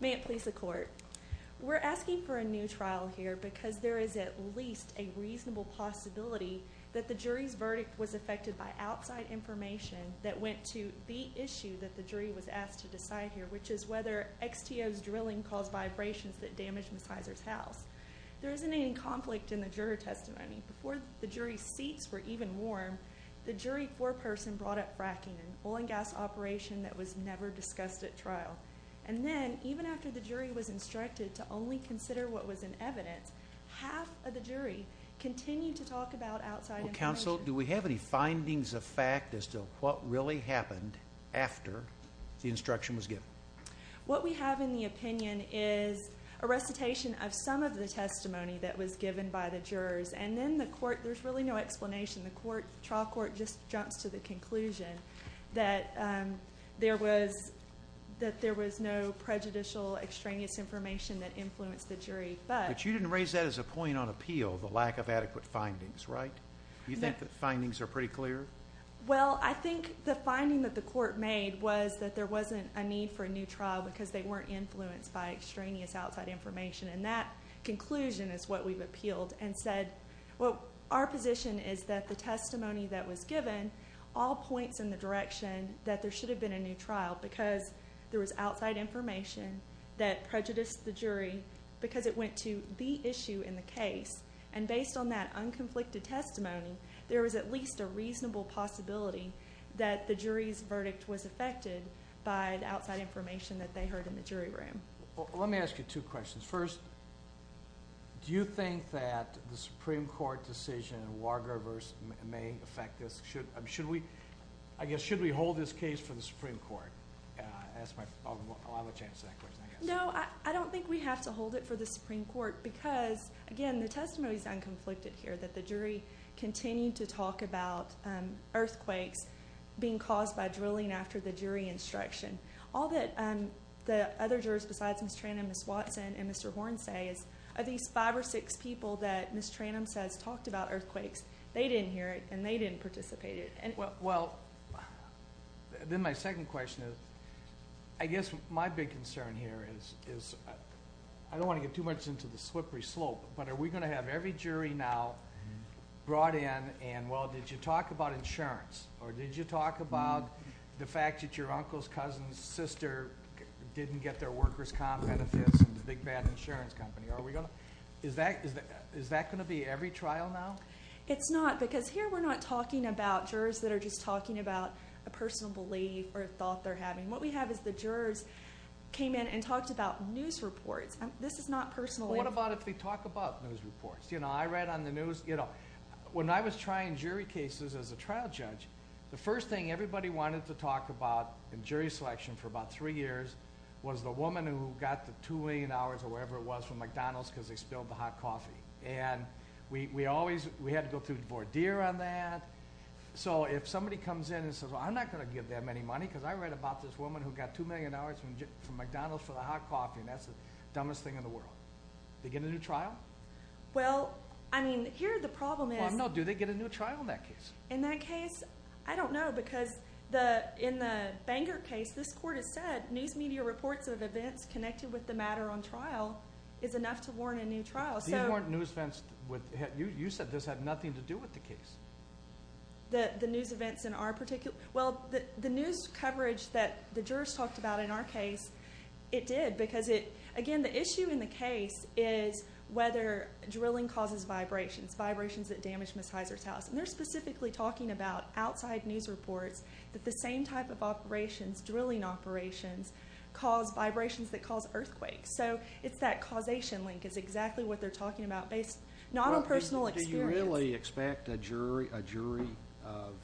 May it please the Court. We're asking for a new trial here because there is at least a reasonable possibility that the jury's verdict was affected by outside information that went to the issue that the jury was asked to decide here, which is whether XTO's drilling caused vibrations that damaged Ms. Hiser's house. There isn't any conflict in the juror testimony. Before the jury's seats were even warm, the jury foreperson brought up fracking and oil gas operation that was never discussed at trial. And then, even after the jury was instructed to only consider what was in evidence, half of the jury continued to talk about outside information. Counsel, do we have any findings of fact as to what really happened after the instruction was given? What we have in the opinion is a recitation of some of the testimony that was given by the jurors. And then the Court, there's really no explanation. The Court, the trial court just jumps to the conclusion that there was no prejudicial extraneous information that influenced the jury. But you didn't raise that as a point on appeal, the lack of adequate findings, right? You think the findings are pretty clear? Well, I think the finding that the court made was that there wasn't a need for a new trial because they weren't influenced by extraneous outside information. And that conclusion is what we've appealed and said, well, our position is that the testimony that was given all points in the direction that there should have been a new trial because there was outside information that prejudiced the jury because it went to the issue in the case. And based on that unconflicted testimony, there was at least a reasonable possibility that the jury's verdict was affected by the outside information that they heard in the jury room. Well, let me ask you two questions. First, do you think that the Supreme Court decision in Wargraver's may affect this? Should we, I guess, should we hold this case for the Supreme Court? I'll have a chance to answer that question, I guess. No, I don't think we have to hold it for the Supreme Court because, again, the testimony is unconflicted here that the jury continued to talk about earthquakes being caused by drilling after the jury instruction. All that the other jurors besides Ms. Tranum, Ms. Watson, and Mr. Horn say is, are these five or six people that Ms. Tranum says talked about earthquakes, they didn't hear it and they didn't participate in it? Well, then my second question is, I guess my big concern here is, I don't want to get too much into the slippery slope, but are we going to have every jury now brought in and, well, did you talk about insurance or did you talk about the fact that your uncle's and cousin's sister didn't get their workers' comp benefits and the big bad insurance company? Is that going to be every trial now? It's not because here we're not talking about jurors that are just talking about a personal belief or a thought they're having. What we have is the jurors came in and talked about news reports. This is not personally- What about if they talk about news reports? I read on the news, when I was trying jury cases as a trial judge, the first thing everybody wanted to talk about in jury selection for about three years was the woman who got the $2 million or whatever it was from McDonald's because they spilled the hot coffee. We had to go through voir dire on that. If somebody comes in and says, well, I'm not going to give them any money because I read about this woman who got $2 million from McDonald's for the hot coffee and that's the dumbest thing in the world. Do they get a new trial? Well, I mean, here the problem is- Well, no, do they get a new trial in that case? In that case, I don't know because in the Banger case, this court has said news media reports of events connected with the matter on trial is enough to warrant a new trial. These weren't news events. You said this had nothing to do with the case. The news events in our particular... Well, the news coverage that the jurors talked about in our case, it did because it... Again, the issue in the case is whether drilling causes vibrations, vibrations that damage Ms. Heiser's house. They're specifically talking about outside news reports that the same type of operations, drilling operations, cause vibrations that cause earthquakes. It's that causation link is exactly what they're talking about based... Not on personal experience. Do you really expect a jury of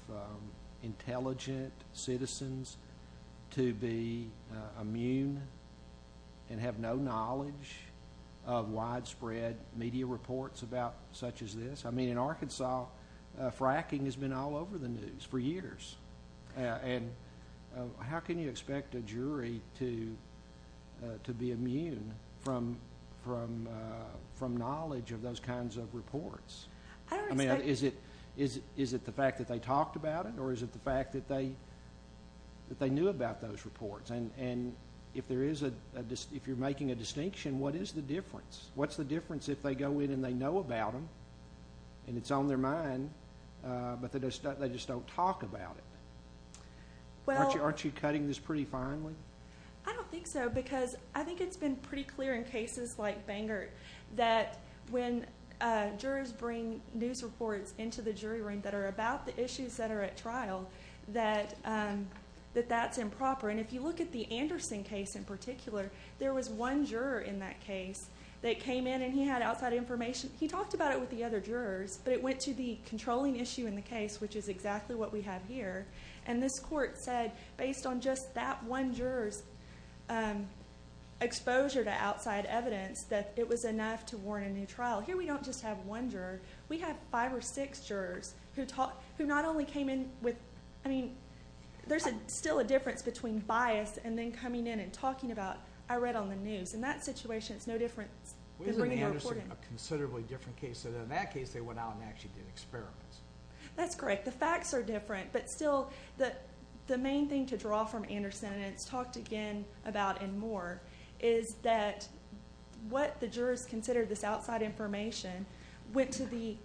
intelligent citizens to be immune and have no knowledge of widespread media reports about such as this? I mean, in Arkansas, fracking has been all over the news for years. How can you expect a jury to be immune from knowledge of those kinds of reports? I don't expect- I mean, is it the fact that they talked about it or is it the fact that they knew about those reports? If you're making a distinction, what is the difference? If they go in and they know about them and it's on their mind, but they just don't talk about it, aren't you cutting this pretty finely? I don't think so because I think it's been pretty clear in cases like Bangert that when jurors bring news reports into the jury room that are about the issues that are at trial, that that's improper. If you look at the Anderson case in particular, there was one juror in that case that came in and he had outside information. He talked about it with the other jurors, but it went to the controlling issue in the case, which is exactly what we have here. And this court said, based on just that one juror's exposure to outside evidence, that it was enough to warrant a new trial. Here, we don't just have one juror. We have five or six jurors who not only came in with- I mean, there's still a difference between bias and then coming in and talking about, I read on the news. In that situation, it's no different than bringing a report in. Wasn't Anderson a considerably different case than in that case, they went out and actually did experiments? That's correct. The facts are different, but still, the main thing to draw from Anderson, and it's talked again about and more, is that what the jurors considered this outside information went to the-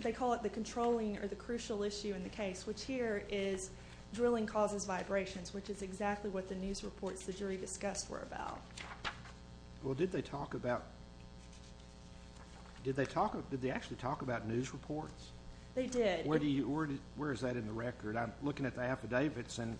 they call it the controlling or the crucial issue in the case, which here is drilling causes vibrations, which is exactly what the news reports the jury discussed were about. Well, did they talk about- did they actually talk about news reports? They did. Where do you- where is that in the record? I'm looking at the affidavits, and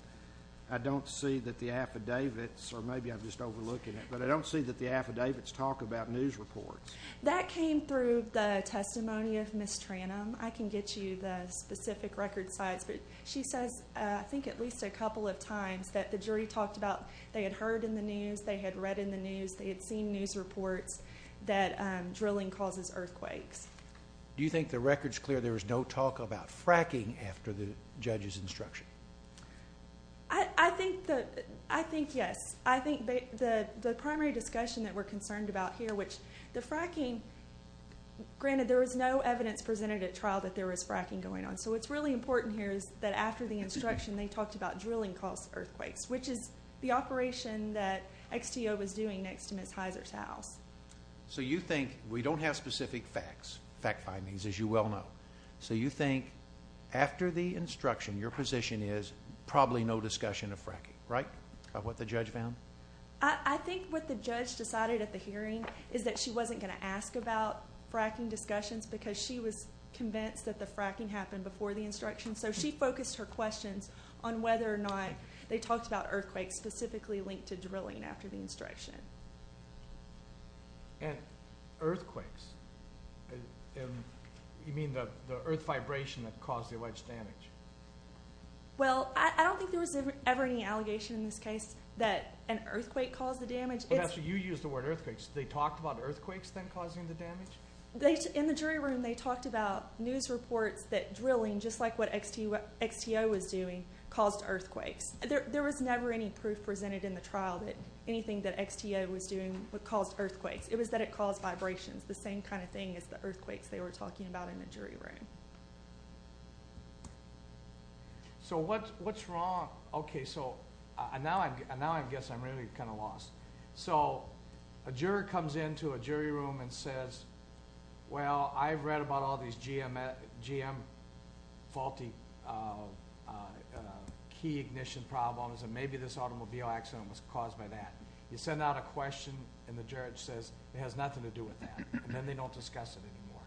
I don't see that the affidavits- or maybe I'm just overlooking it, but I don't see that the affidavits talk about news reports. That came through the testimony of Ms. Tranum. I can get you the specific record size, but she says, I think, at least a couple of times that the jury talked about they had heard in the news, they had read in the news, they had seen news reports that drilling causes earthquakes. Do you think the record's clear there was no talk about fracking after the judge's instruction? I think the- I think yes. I think the primary discussion that we're concerned about here, which the fracking- granted, there was no evidence presented at trial that there was fracking going on, so what's really important here is that after the instruction, they talked about drilling caused earthquakes, which is the operation that XTO was doing next to Ms. Heiser's house. So you think- we don't have specific facts, fact findings, as you well know. So you think after the instruction, your position is probably no discussion of fracking, right? Of what the judge found? I think what the judge decided at the hearing is that she wasn't going to ask about fracking discussions because she was convinced that the fracking happened before the instruction, so she focused her questions on whether or not they talked about earthquakes specifically linked to drilling after the instruction. And earthquakes, you mean the earth vibration that caused the alleged damage? Well, I don't think there was ever any allegation in this case that an earthquake caused the damage. But after you used the word earthquakes, they talked about earthquakes then causing the damage? In the jury room, they talked about news reports that drilling, just like what XTO was doing, caused earthquakes. There was never any proof presented in the trial that anything that XTO was doing caused earthquakes. It was that it caused vibrations, the same kind of thing as the earthquakes they were talking about in the jury room. So what's wrong- okay, so now I guess I'm really kind of lost. So a juror comes into a jury room and says, well, I've read about all these GM faulty key ignition problems and maybe this automobile accident was caused by that. You send out a question and the judge says it has nothing to do with that, and then they don't discuss it anymore.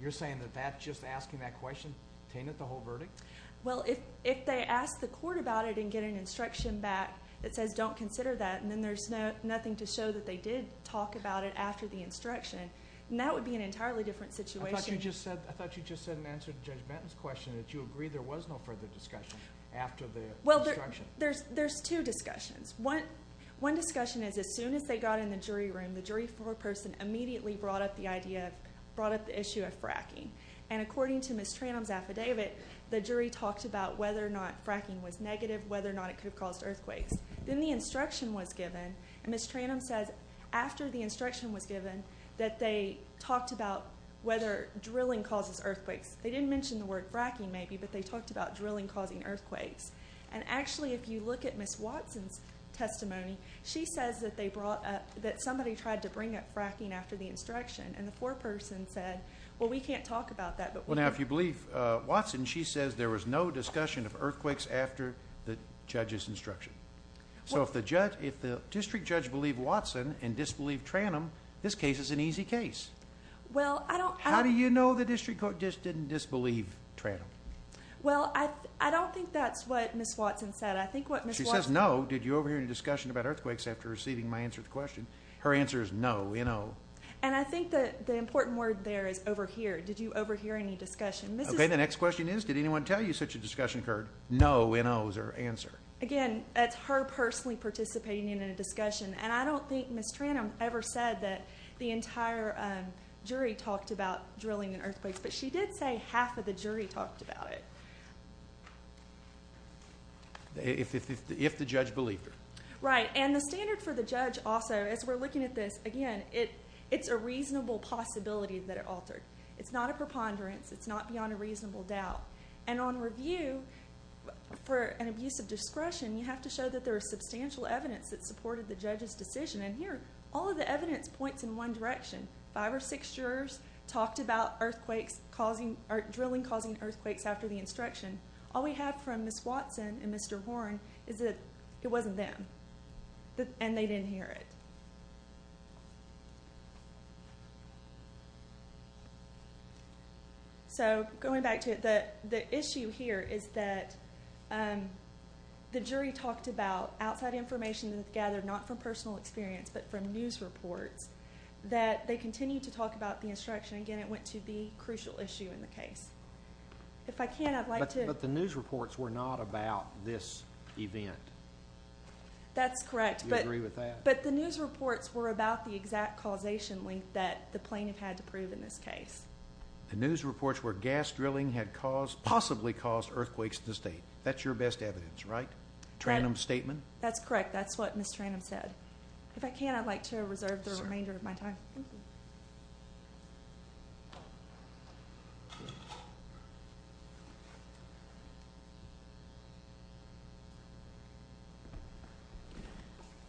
You're saying that just asking that question tainted the whole verdict? Well, if they ask the court about it and get an instruction back that says don't consider that, and then there's nothing to show that they did talk about it after the instruction, then that would be an entirely different situation. I thought you just said in answer to Judge Benton's question that you agree there was no further discussion after the instruction. Well, there's two discussions. One discussion is as soon as they got in the jury room, the jury floor person immediately brought up the idea of- brought up the issue of fracking. And according to Ms. Tranum's affidavit, the jury talked about whether or not fracking was negative, whether or not it could have caused earthquakes. Then the instruction was given, and Ms. Tranum says after the instruction was given, that they talked about whether drilling causes earthquakes. They didn't mention the word fracking maybe, but they talked about drilling causing earthquakes. And actually, if you look at Ms. Watson's testimony, she says that they brought up- that somebody tried to bring up fracking after the instruction, and the floor person said, well, we can't talk about that. Well, now, if you believe Watson, she says there was no discussion of earthquakes after the judge's instruction. So if the judge- if the district judge believed Watson and disbelieved Tranum, this case is an easy case. Well, I don't- How do you know the district court just didn't disbelieve Tranum? Well, I don't think that's what Ms. Watson said. I think what Ms. Watson- She says no. Did you overhear any discussion about earthquakes after receiving my answer to the question? Her answer is no, you know. And I think that the important word there is overhear. Did you overhear any discussion? Okay, the next question is, did anyone tell you such a discussion occurred? No, no is her answer. Again, that's her personally participating in a discussion. And I don't think Ms. Tranum ever said that the entire jury talked about drilling in earthquakes, but she did say half of the jury talked about it. If the judge believed her. Right. And the standard for the judge also, as we're looking at this, again, it's a reasonable possibility that it altered. It's not a preponderance. It's not beyond a reasonable doubt. And on review, for an abuse of discretion, you have to show that there is substantial evidence that supported the judge's decision. And here, all of the evidence points in one direction. Five or six jurors talked about drilling causing earthquakes after the instruction. All we have from Ms. Watson and Mr. Horne is that it wasn't them, and they didn't hear it. Okay. So, going back to it, the issue here is that the jury talked about outside information that they gathered, not from personal experience, but from news reports, that they continued to talk about the instruction. Again, it went to the crucial issue in the case. If I can, I'd like to. But the news reports were not about this event. That's correct. Do you agree with that? But the news reports were about the exact causation link that the plaintiff had to prove in this case. The news reports were gas drilling had possibly caused earthquakes in the state. That's your best evidence, right? Tranum's statement? That's correct. That's what Ms. Tranum said. If I can, I'd like to reserve the remainder of my time. Thank you.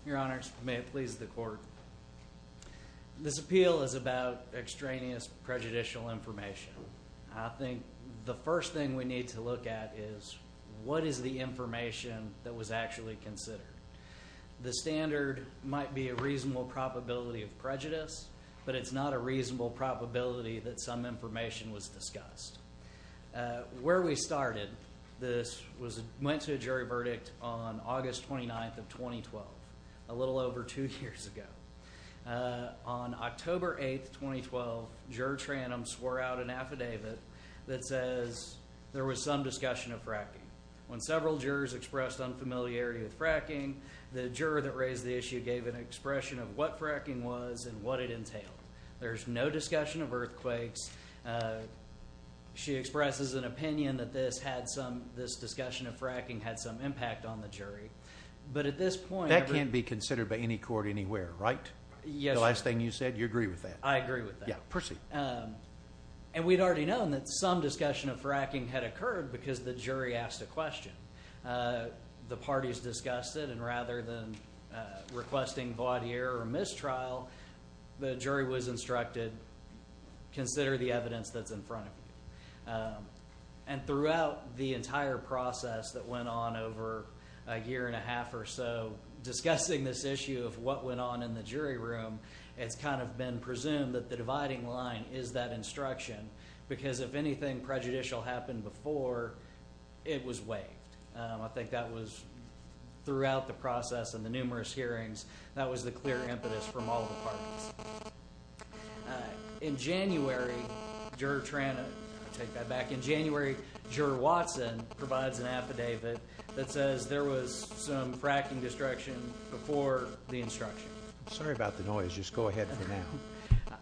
Your Honor, may it please the court. This appeal is about extraneous prejudicial information. I think the first thing we need to look at is what is the information that was actually considered. The standard might be a reasonable probability of prejudice, but it's not a reasonable probability that some information was discussed. Where we started, this went to a jury verdict on August 29th of 2012, a little over two years ago. On October 8th, 2012, Juror Tranum swore out an affidavit that says there was some discussion of fracking. When several jurors expressed unfamiliarity with fracking, the juror that raised the issue gave an expression of what fracking was and what it entailed. There's no discussion of earthquakes. She expresses an opinion that this discussion of fracking had some impact on the jury. That can't be considered by any court anywhere, right? Yes, Your Honor. The last thing you said, you agree with that? I agree with that. Proceed. And we'd already known that some discussion of fracking had occurred because the jury asked a question. The parties discussed it, and rather than requesting void of error or mistrial, the jury was instructed, consider the evidence that's in front of you. And throughout the entire process that went on over a year and a half or so, discussing this issue of what went on in the jury room, it's kind of been presumed that the dividing line is that instruction because if anything prejudicial happened before, it was waived. I think that was, throughout the process and the numerous hearings, that was the clear impetus from all the parties. In January, Juror Tranum, I'll take that back. In January, Juror Watson provides an affidavit that says there was some fracking destruction before the instruction. Sorry about the noise. Just go ahead for now.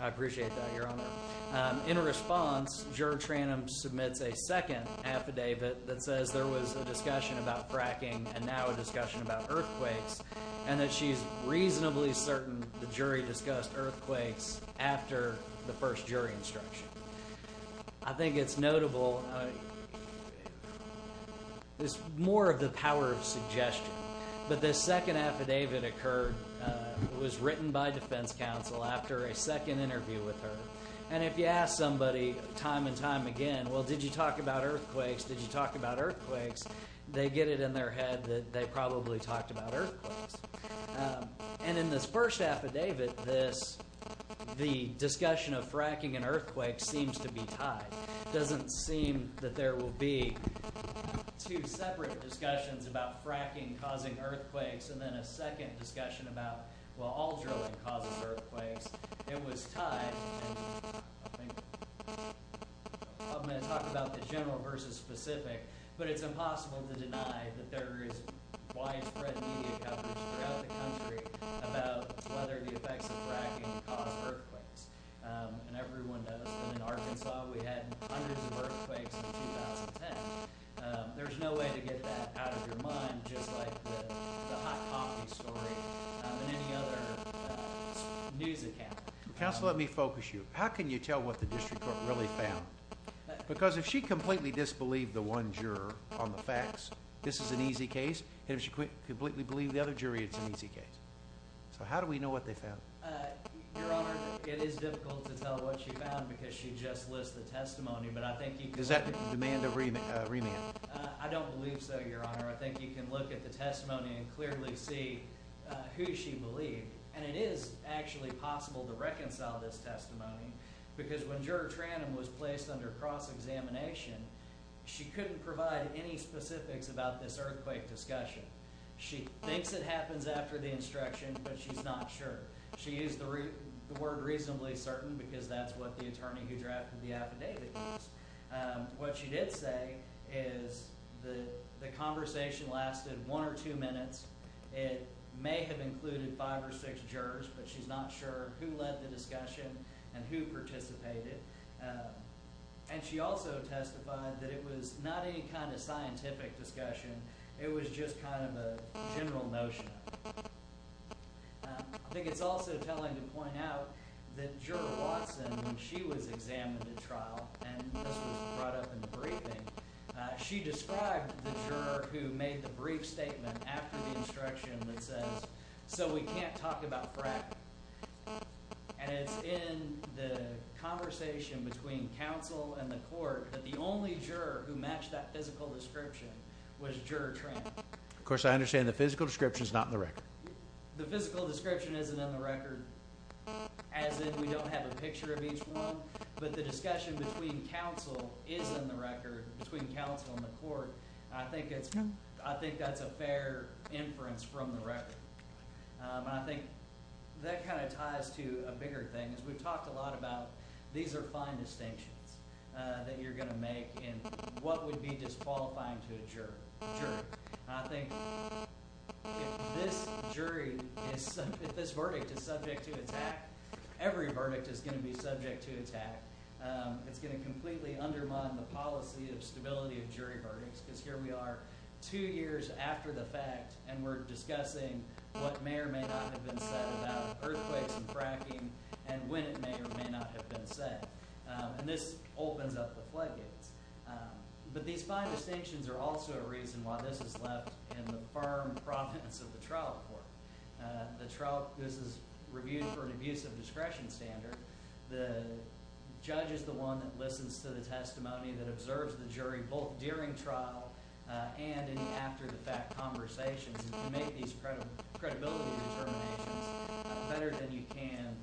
I appreciate that, Your Honor. In response, Juror Tranum submits a second affidavit that says there was a discussion about fracking and now a discussion about earthquakes, and that she's reasonably certain the jury discussed earthquakes after the first jury instruction. I think it's notable. It's more of the power of suggestion. But this second affidavit occurred, was written by defense counsel after a second interview with her, and if you ask somebody time and time again, well, did you talk about earthquakes? Did you talk about earthquakes? They get it in their head that they probably talked about earthquakes. And in this first affidavit, the discussion of fracking and earthquakes seems to be tied. It doesn't seem that there will be two separate discussions about fracking causing earthquakes and then a second discussion about, well, all drilling causes earthquakes. It was tied. I'm going to talk about the general versus specific, but it's impossible to deny that there is widespread media coverage throughout the country about whether the effects of fracking cause earthquakes. And everyone knows that in Arkansas we had hundreds of earthquakes in 2010. There's no way to get that out of your mind just like the hot coffee story and any other news account. Counsel, let me focus you. How can you tell what the district court really found? Because if she completely disbelieved the one juror on the facts, this is an easy case. And if she completely believed the other jury, it's an easy case. So how do we know what they found? Your Honor, it is difficult to tell what she found because she just lists the testimony. But I think you can... Does that demand a remand? I don't believe so, Your Honor. I think you can look at the testimony and clearly see who she believed. And it is actually possible to reconcile this testimony because when Juror Tranum was placed under cross-examination, she couldn't provide any specifics about this earthquake discussion. She thinks it happens after the instruction, but she's not sure. She used the word reasonably certain because that's what the attorney who drafted the affidavit used. What she did say is the conversation lasted one or two minutes. It may have included five or six jurors, but she's not sure who led the discussion and who participated. And she also testified that it was not any kind of scientific discussion. It was just kind of a general notion. I think it's also telling to point out that Juror Watson, when she was examined at trial and this was brought up in the briefing, she described the juror who made the brief statement after the instruction that says, so we can't talk about fracking. And it's in the conversation between counsel and the court that the only juror who matched that physical description was Juror Tranum. Of course, I understand the physical description is not in the record. The physical description isn't in the record as in we don't have a picture of each one, but the discussion between counsel is in the record, between counsel and the court. I think that's a fair inference from the record. I think that kind of ties to a bigger thing. We've talked a lot about these are fine distinctions that you're going to make and what would be disqualifying to a juror. I think if this jury, if this verdict is subject to attack, every verdict is going to be subject to attack. It's going to completely undermine the policy of stability of jury verdicts because here we are two years after the fact and we're discussing what may or may not have been said about earthquakes and fracking and when it may or may not have been said. And this opens up the floodgates. But these fine distinctions are also a reason why this is left in the firm province of the trial court. This is reviewed for an abusive discretion standard. The judge is the one that listens to the testimony that observes the jury both during trial and in the after-the-fact conversations and can make these credibility determinations better than you can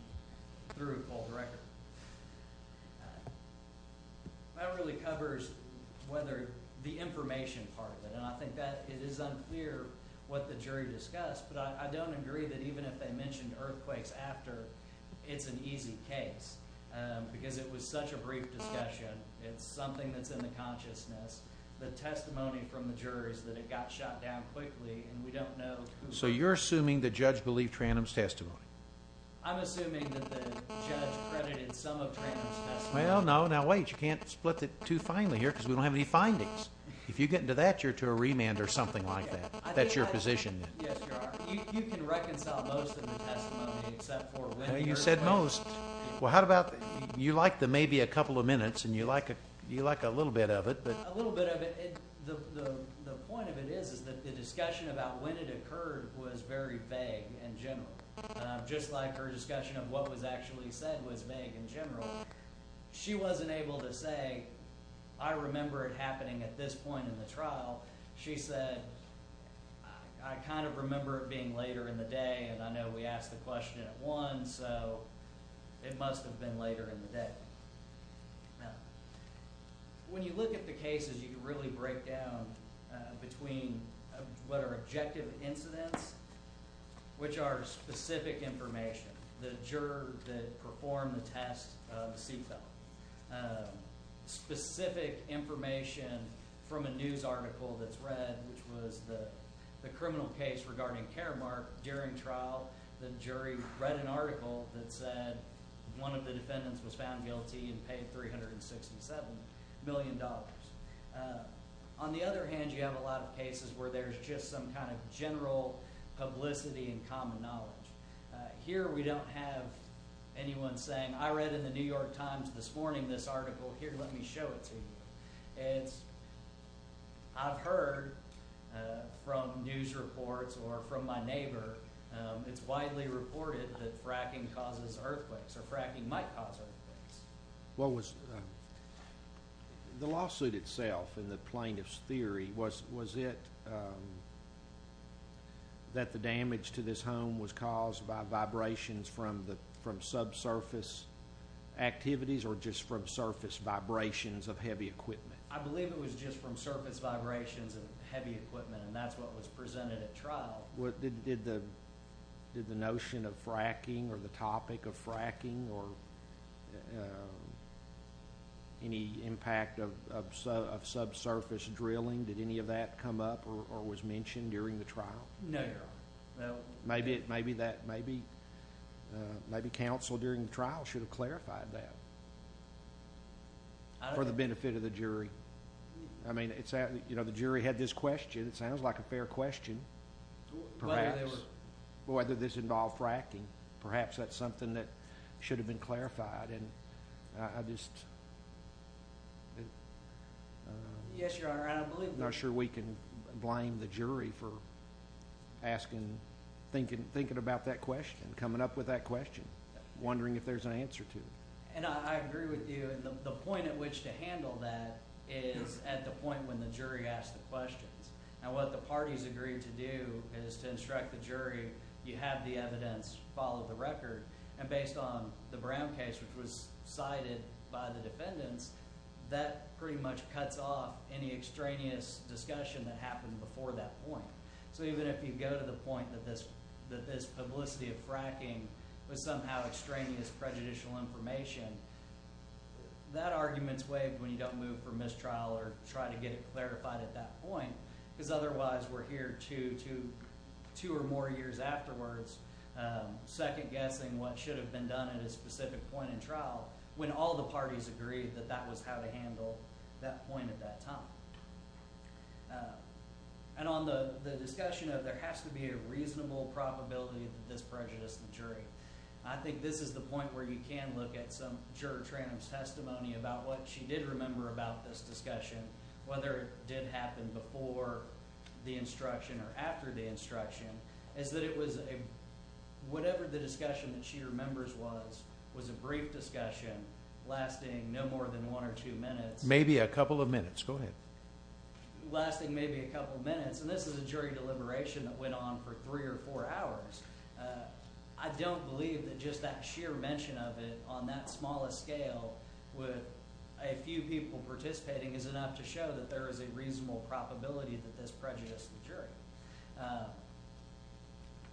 through a cold record. That really covers whether the information part of it and I think that it is unclear what the jury discussed but I don't agree that even if they mentioned earthquakes after, it's an easy case because it was such a brief discussion. It's something that's in the consciousness. The testimony from the jury is that it got shot down quickly and we don't know who... So you're assuming the judge believed Trandum's testimony? I'm assuming that the judge credited some of Trandum's testimony. Well, no, now wait. You can't split it too finely here because we don't have any findings. If you get into that, you're to a remand or something like that. That's your position. Yes, you are. You can reconcile most of the testimony except for... You said most. Well, how about... You like the maybe a couple of minutes and you like a little bit of it but... A little bit of it. The point of it is that the discussion about when it occurred was very vague and general. Just like her discussion of what was actually said was vague and general. She wasn't able to say, I remember it happening at this point in the trial. She said, I kind of remember it being later in the day and I know we asked the question at 1, so it must have been later in the day. When you look at the cases, you can really break down between what are objective incidents, which are specific information. The juror that performed the test, the seatbelt. Specific information from a news article that's read, which was the criminal case regarding Karamark. During trial, the jury read an article that said one of the defendants was found guilty and paid $367 million. On the other hand, you have a lot of cases where there's just some kind of general publicity and common knowledge. Here we don't have anyone saying, I read in the New York Times this morning this article. Here, let me show it to you. I've heard from news reports or from my neighbor, it's widely reported that fracking causes earthquakes or fracking might cause earthquakes. What was... The lawsuit itself in the plaintiff's theory, was it that the damage to this home was caused by vibrations from subsurface activities or just from surface vibrations of heavy equipment? I believe it was just from surface vibrations of heavy equipment and that's what was presented at trial. Did the notion of fracking or the topic of fracking or any impact of subsurface drilling, did any of that come up or was mentioned during the trial? No, Your Honor. Maybe counsel during the trial should have clarified that for the benefit of the jury. I mean, the jury had this question. It sounds like a fair question. Whether this involved fracking. Perhaps that's something that should have been clarified. Yes, Your Honor. I'm not sure we can blame the jury for thinking about that question, coming up with that question, wondering if there's an answer to it. I agree with you. The point at which to handle that is at the point when the jury asks the questions. What the parties agreed to do is to instruct the jury, you have the evidence, follow the record, and based on the Brown case, which was cited by the defendants, that pretty much cuts off any extraneous discussion that happened before that point. So even if you go to the point that this publicity of fracking was somehow extraneous prejudicial information, that argument's waived when you don't move from mistrial or try to get it clarified at that point. Because otherwise we're here two or more years afterwards, second-guessing what should have been done at a specific point in trial when all the parties agreed that that was how to handle that point at that time. And on the discussion of there has to be a reasonable probability that this prejudiced the jury, I think this is the point where you can look at some juror's testimony about what she did remember about this discussion, whether it did happen before the instruction or after the instruction, is that it was a, whatever the discussion that she remembers was, was a brief discussion, lasting no more than one or two minutes. Maybe a couple of minutes, go ahead. Lasting maybe a couple of minutes, and this is a jury deliberation that went on for three or four hours. I don't believe that just that sheer mention of it on that smallest scale with a few people participating is enough to show that there is a reasonable probability that this prejudiced the jury.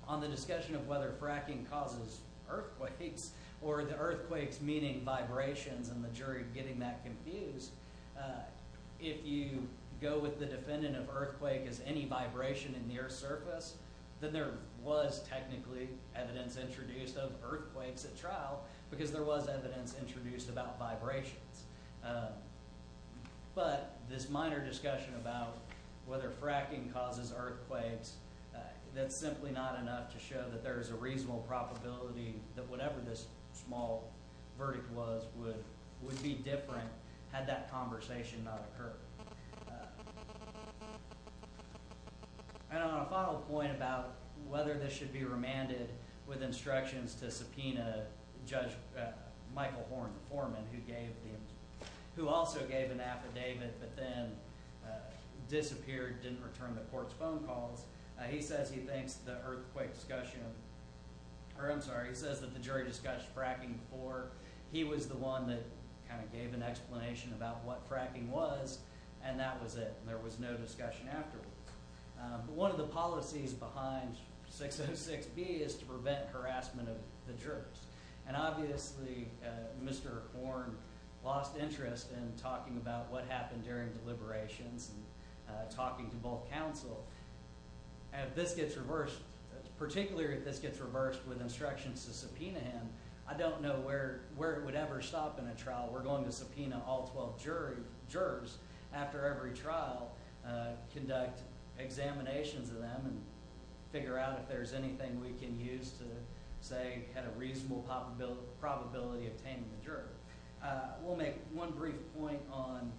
On the discussion of whether fracking causes earthquakes or the earthquakes meaning vibrations and the jury getting that confused, if you go with the defendant of earthquake as any vibration in the earth's surface, then there was technically evidence introduced of earthquakes at trial because there was evidence introduced about vibrations. But this minor discussion about whether fracking causes earthquakes, that's simply not enough to show that there is a reasonable probability that whatever this small verdict was would be different had that conversation not occurred. And on a final point about whether this should be remanded with instructions to subpoena Judge Michael Horn, the foreman who gave the, who gave it but then disappeared, didn't return the court's phone calls, he says he thinks the earthquake discussion, or I'm sorry, he says that the jury discussed fracking before. He was the one that kind of gave an explanation about what fracking was and that was it. There was no discussion afterward. But one of the policies behind 606B is to prevent harassment of the jurors. And obviously Mr. Horn lost interest in talking about what happened during deliberations and talking to both counsel. If this gets reversed, particularly if this gets reversed with instructions to subpoena him, I don't know where it would ever stop in a trial. We're going to subpoena all 12 jurors after every trial, conduct examinations of them, and figure out if there's anything we can use to say had a reasonable probability of taming the juror. We'll make one brief point on...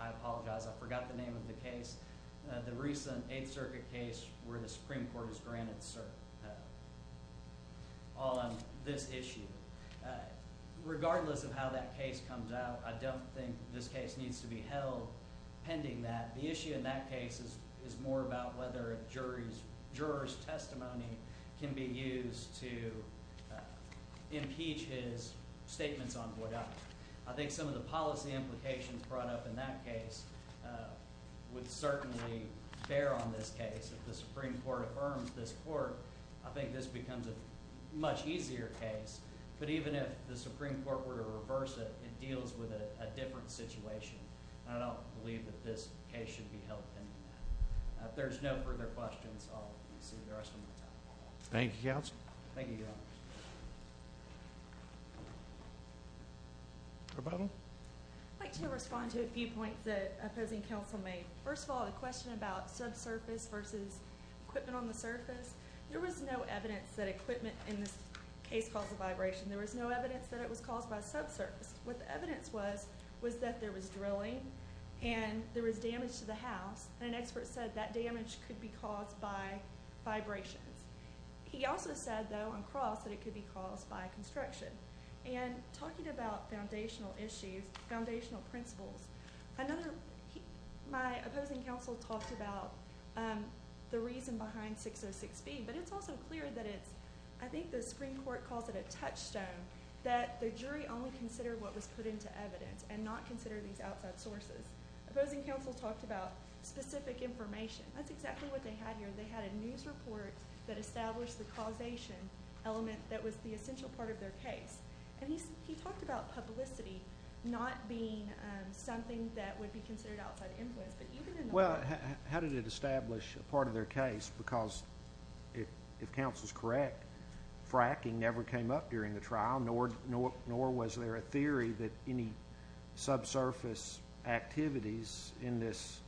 I apologize, I forgot the name of the case. The recent 8th Circuit case where the Supreme Court has granted cert on this issue. Regardless of how that case comes out, I don't think this case needs to be held pending that. The issue in that case is more about whether a juror's testimony can be used to impeach his statements on Bourdain. I think some of the policy implications brought up in that case would certainly bear on this case. If the Supreme Court affirms this court, I think this becomes a much easier case. But even if the Supreme Court were to reverse it, it deals with a different situation. And I don't believe that this case should be held pending that. If there's no further questions, I'll concede the rest of my time. Thank you, counsel. Thank you, Your Honor. Rebuttal? I'd like to respond to a few points that opposing counsel made. First of all, the question about subsurface versus equipment on the surface. There was no evidence that equipment in this case caused the vibration. There was no evidence that it was caused by subsurface. What the evidence was, was that there was drilling and there was damage to the house. An expert said that damage could be caused by vibrations. He also said, though, on cross, that it could be caused by construction. And talking about foundational issues, foundational principles, another... My opposing counsel talked about the reason behind 606B, but it's also clear that it's... I think the Supreme Court calls it a touchstone that the jury only consider what was put into evidence and not consider these outside sources. Opposing counsel talked about specific information. That's exactly what they had here. They had a news report that established the causation element that was the essential part of their case. And he talked about publicity not being something that would be considered outside influence. Well, how did it establish a part of their case? Because if counsel's correct, fracking never came up during the trial, nor was there a theory that any subsurface activities in this...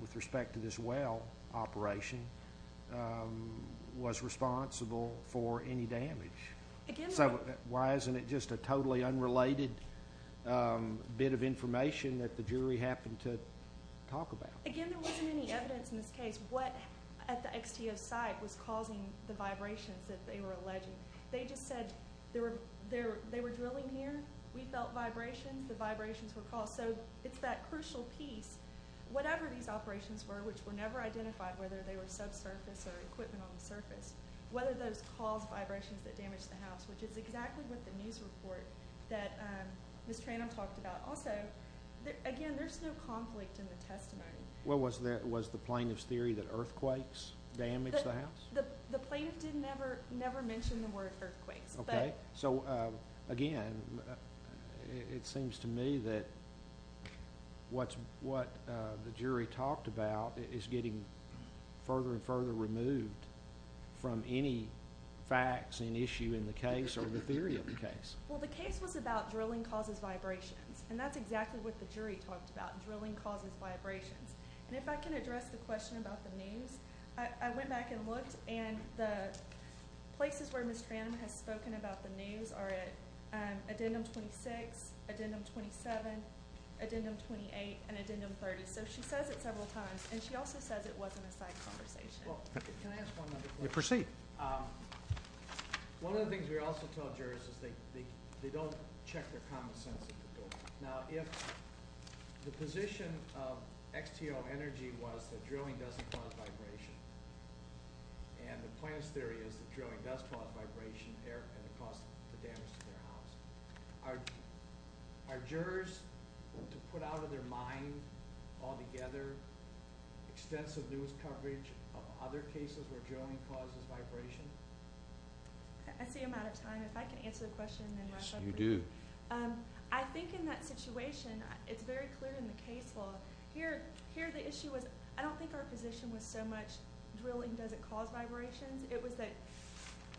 with respect to this well operation was responsible for any damage. So why isn't it just a totally unrelated bit of information that the jury happened to talk about? Again, there wasn't any evidence in this case what at the XTO site was causing the vibrations that they were alleging. They just said they were drilling here. We felt vibrations. The vibrations were caused. So it's that crucial piece. Whatever these operations were, which were never identified, whether they were subsurface or equipment on the surface, whether those caused vibrations that damaged the house, which is exactly what the news report that Ms. Tranum talked about. Also, again, there's no conflict in the testimony. Well, was the plaintiff's theory that earthquakes damaged the house? The plaintiff never mentioned the word earthquakes. So, again, it seems to me that what the jury talked about is getting further and further removed from any facts and issue in the case or the theory of the case. Well, the case was about drilling causes vibrations. And that's exactly what the jury talked about. Drilling causes vibrations. And if I can address the question about the news, I went back and looked and the places where Ms. Tranum has spoken about the news are at Addendum 26, Addendum 27, Addendum 28, and Addendum 30. So she says it several times, and she also says it wasn't a side conversation. Can I ask one other question? One of the things we also tell jurors is they don't check their common sense at the door. Now, if the position of XTO Energy was that drilling doesn't cause vibration and the plaintiff's theory is that drilling does cause vibration and it caused the damage to their house, are jurors to put out of their mind altogether extensive news coverage of other cases where drilling causes vibration? I see I'm out of time. If I can answer the question and then wrap up. I think in that situation, it's very clear in the case law. Here the issue was I don't think our position was so much drilling doesn't cause vibrations. It was that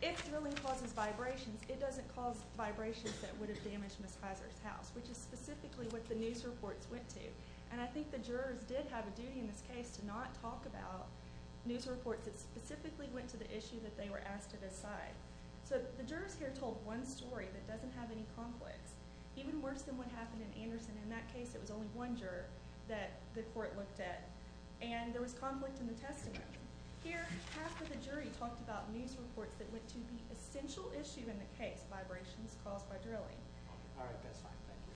if drilling causes vibrations, it doesn't cause vibrations that would have damaged Ms. Kaiser's house, which is specifically what the news reports went to. And I think the jurors did have a duty in this case to not talk about news reports that specifically went to the issue that they were asked to decide. So the jurors here told one story that doesn't have any conflicts. Even worse than what happened in Anderson. In that case, it was only one juror that the court looked at. And there was conflict in the testimony. Here, half of the jury talked about news reports that went to the essential issue in the case, vibrations caused by drilling.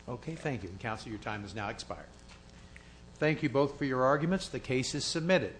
Okay, thank you. Counselor, your time is now expired. Thank you both for your arguments. The case is submitted.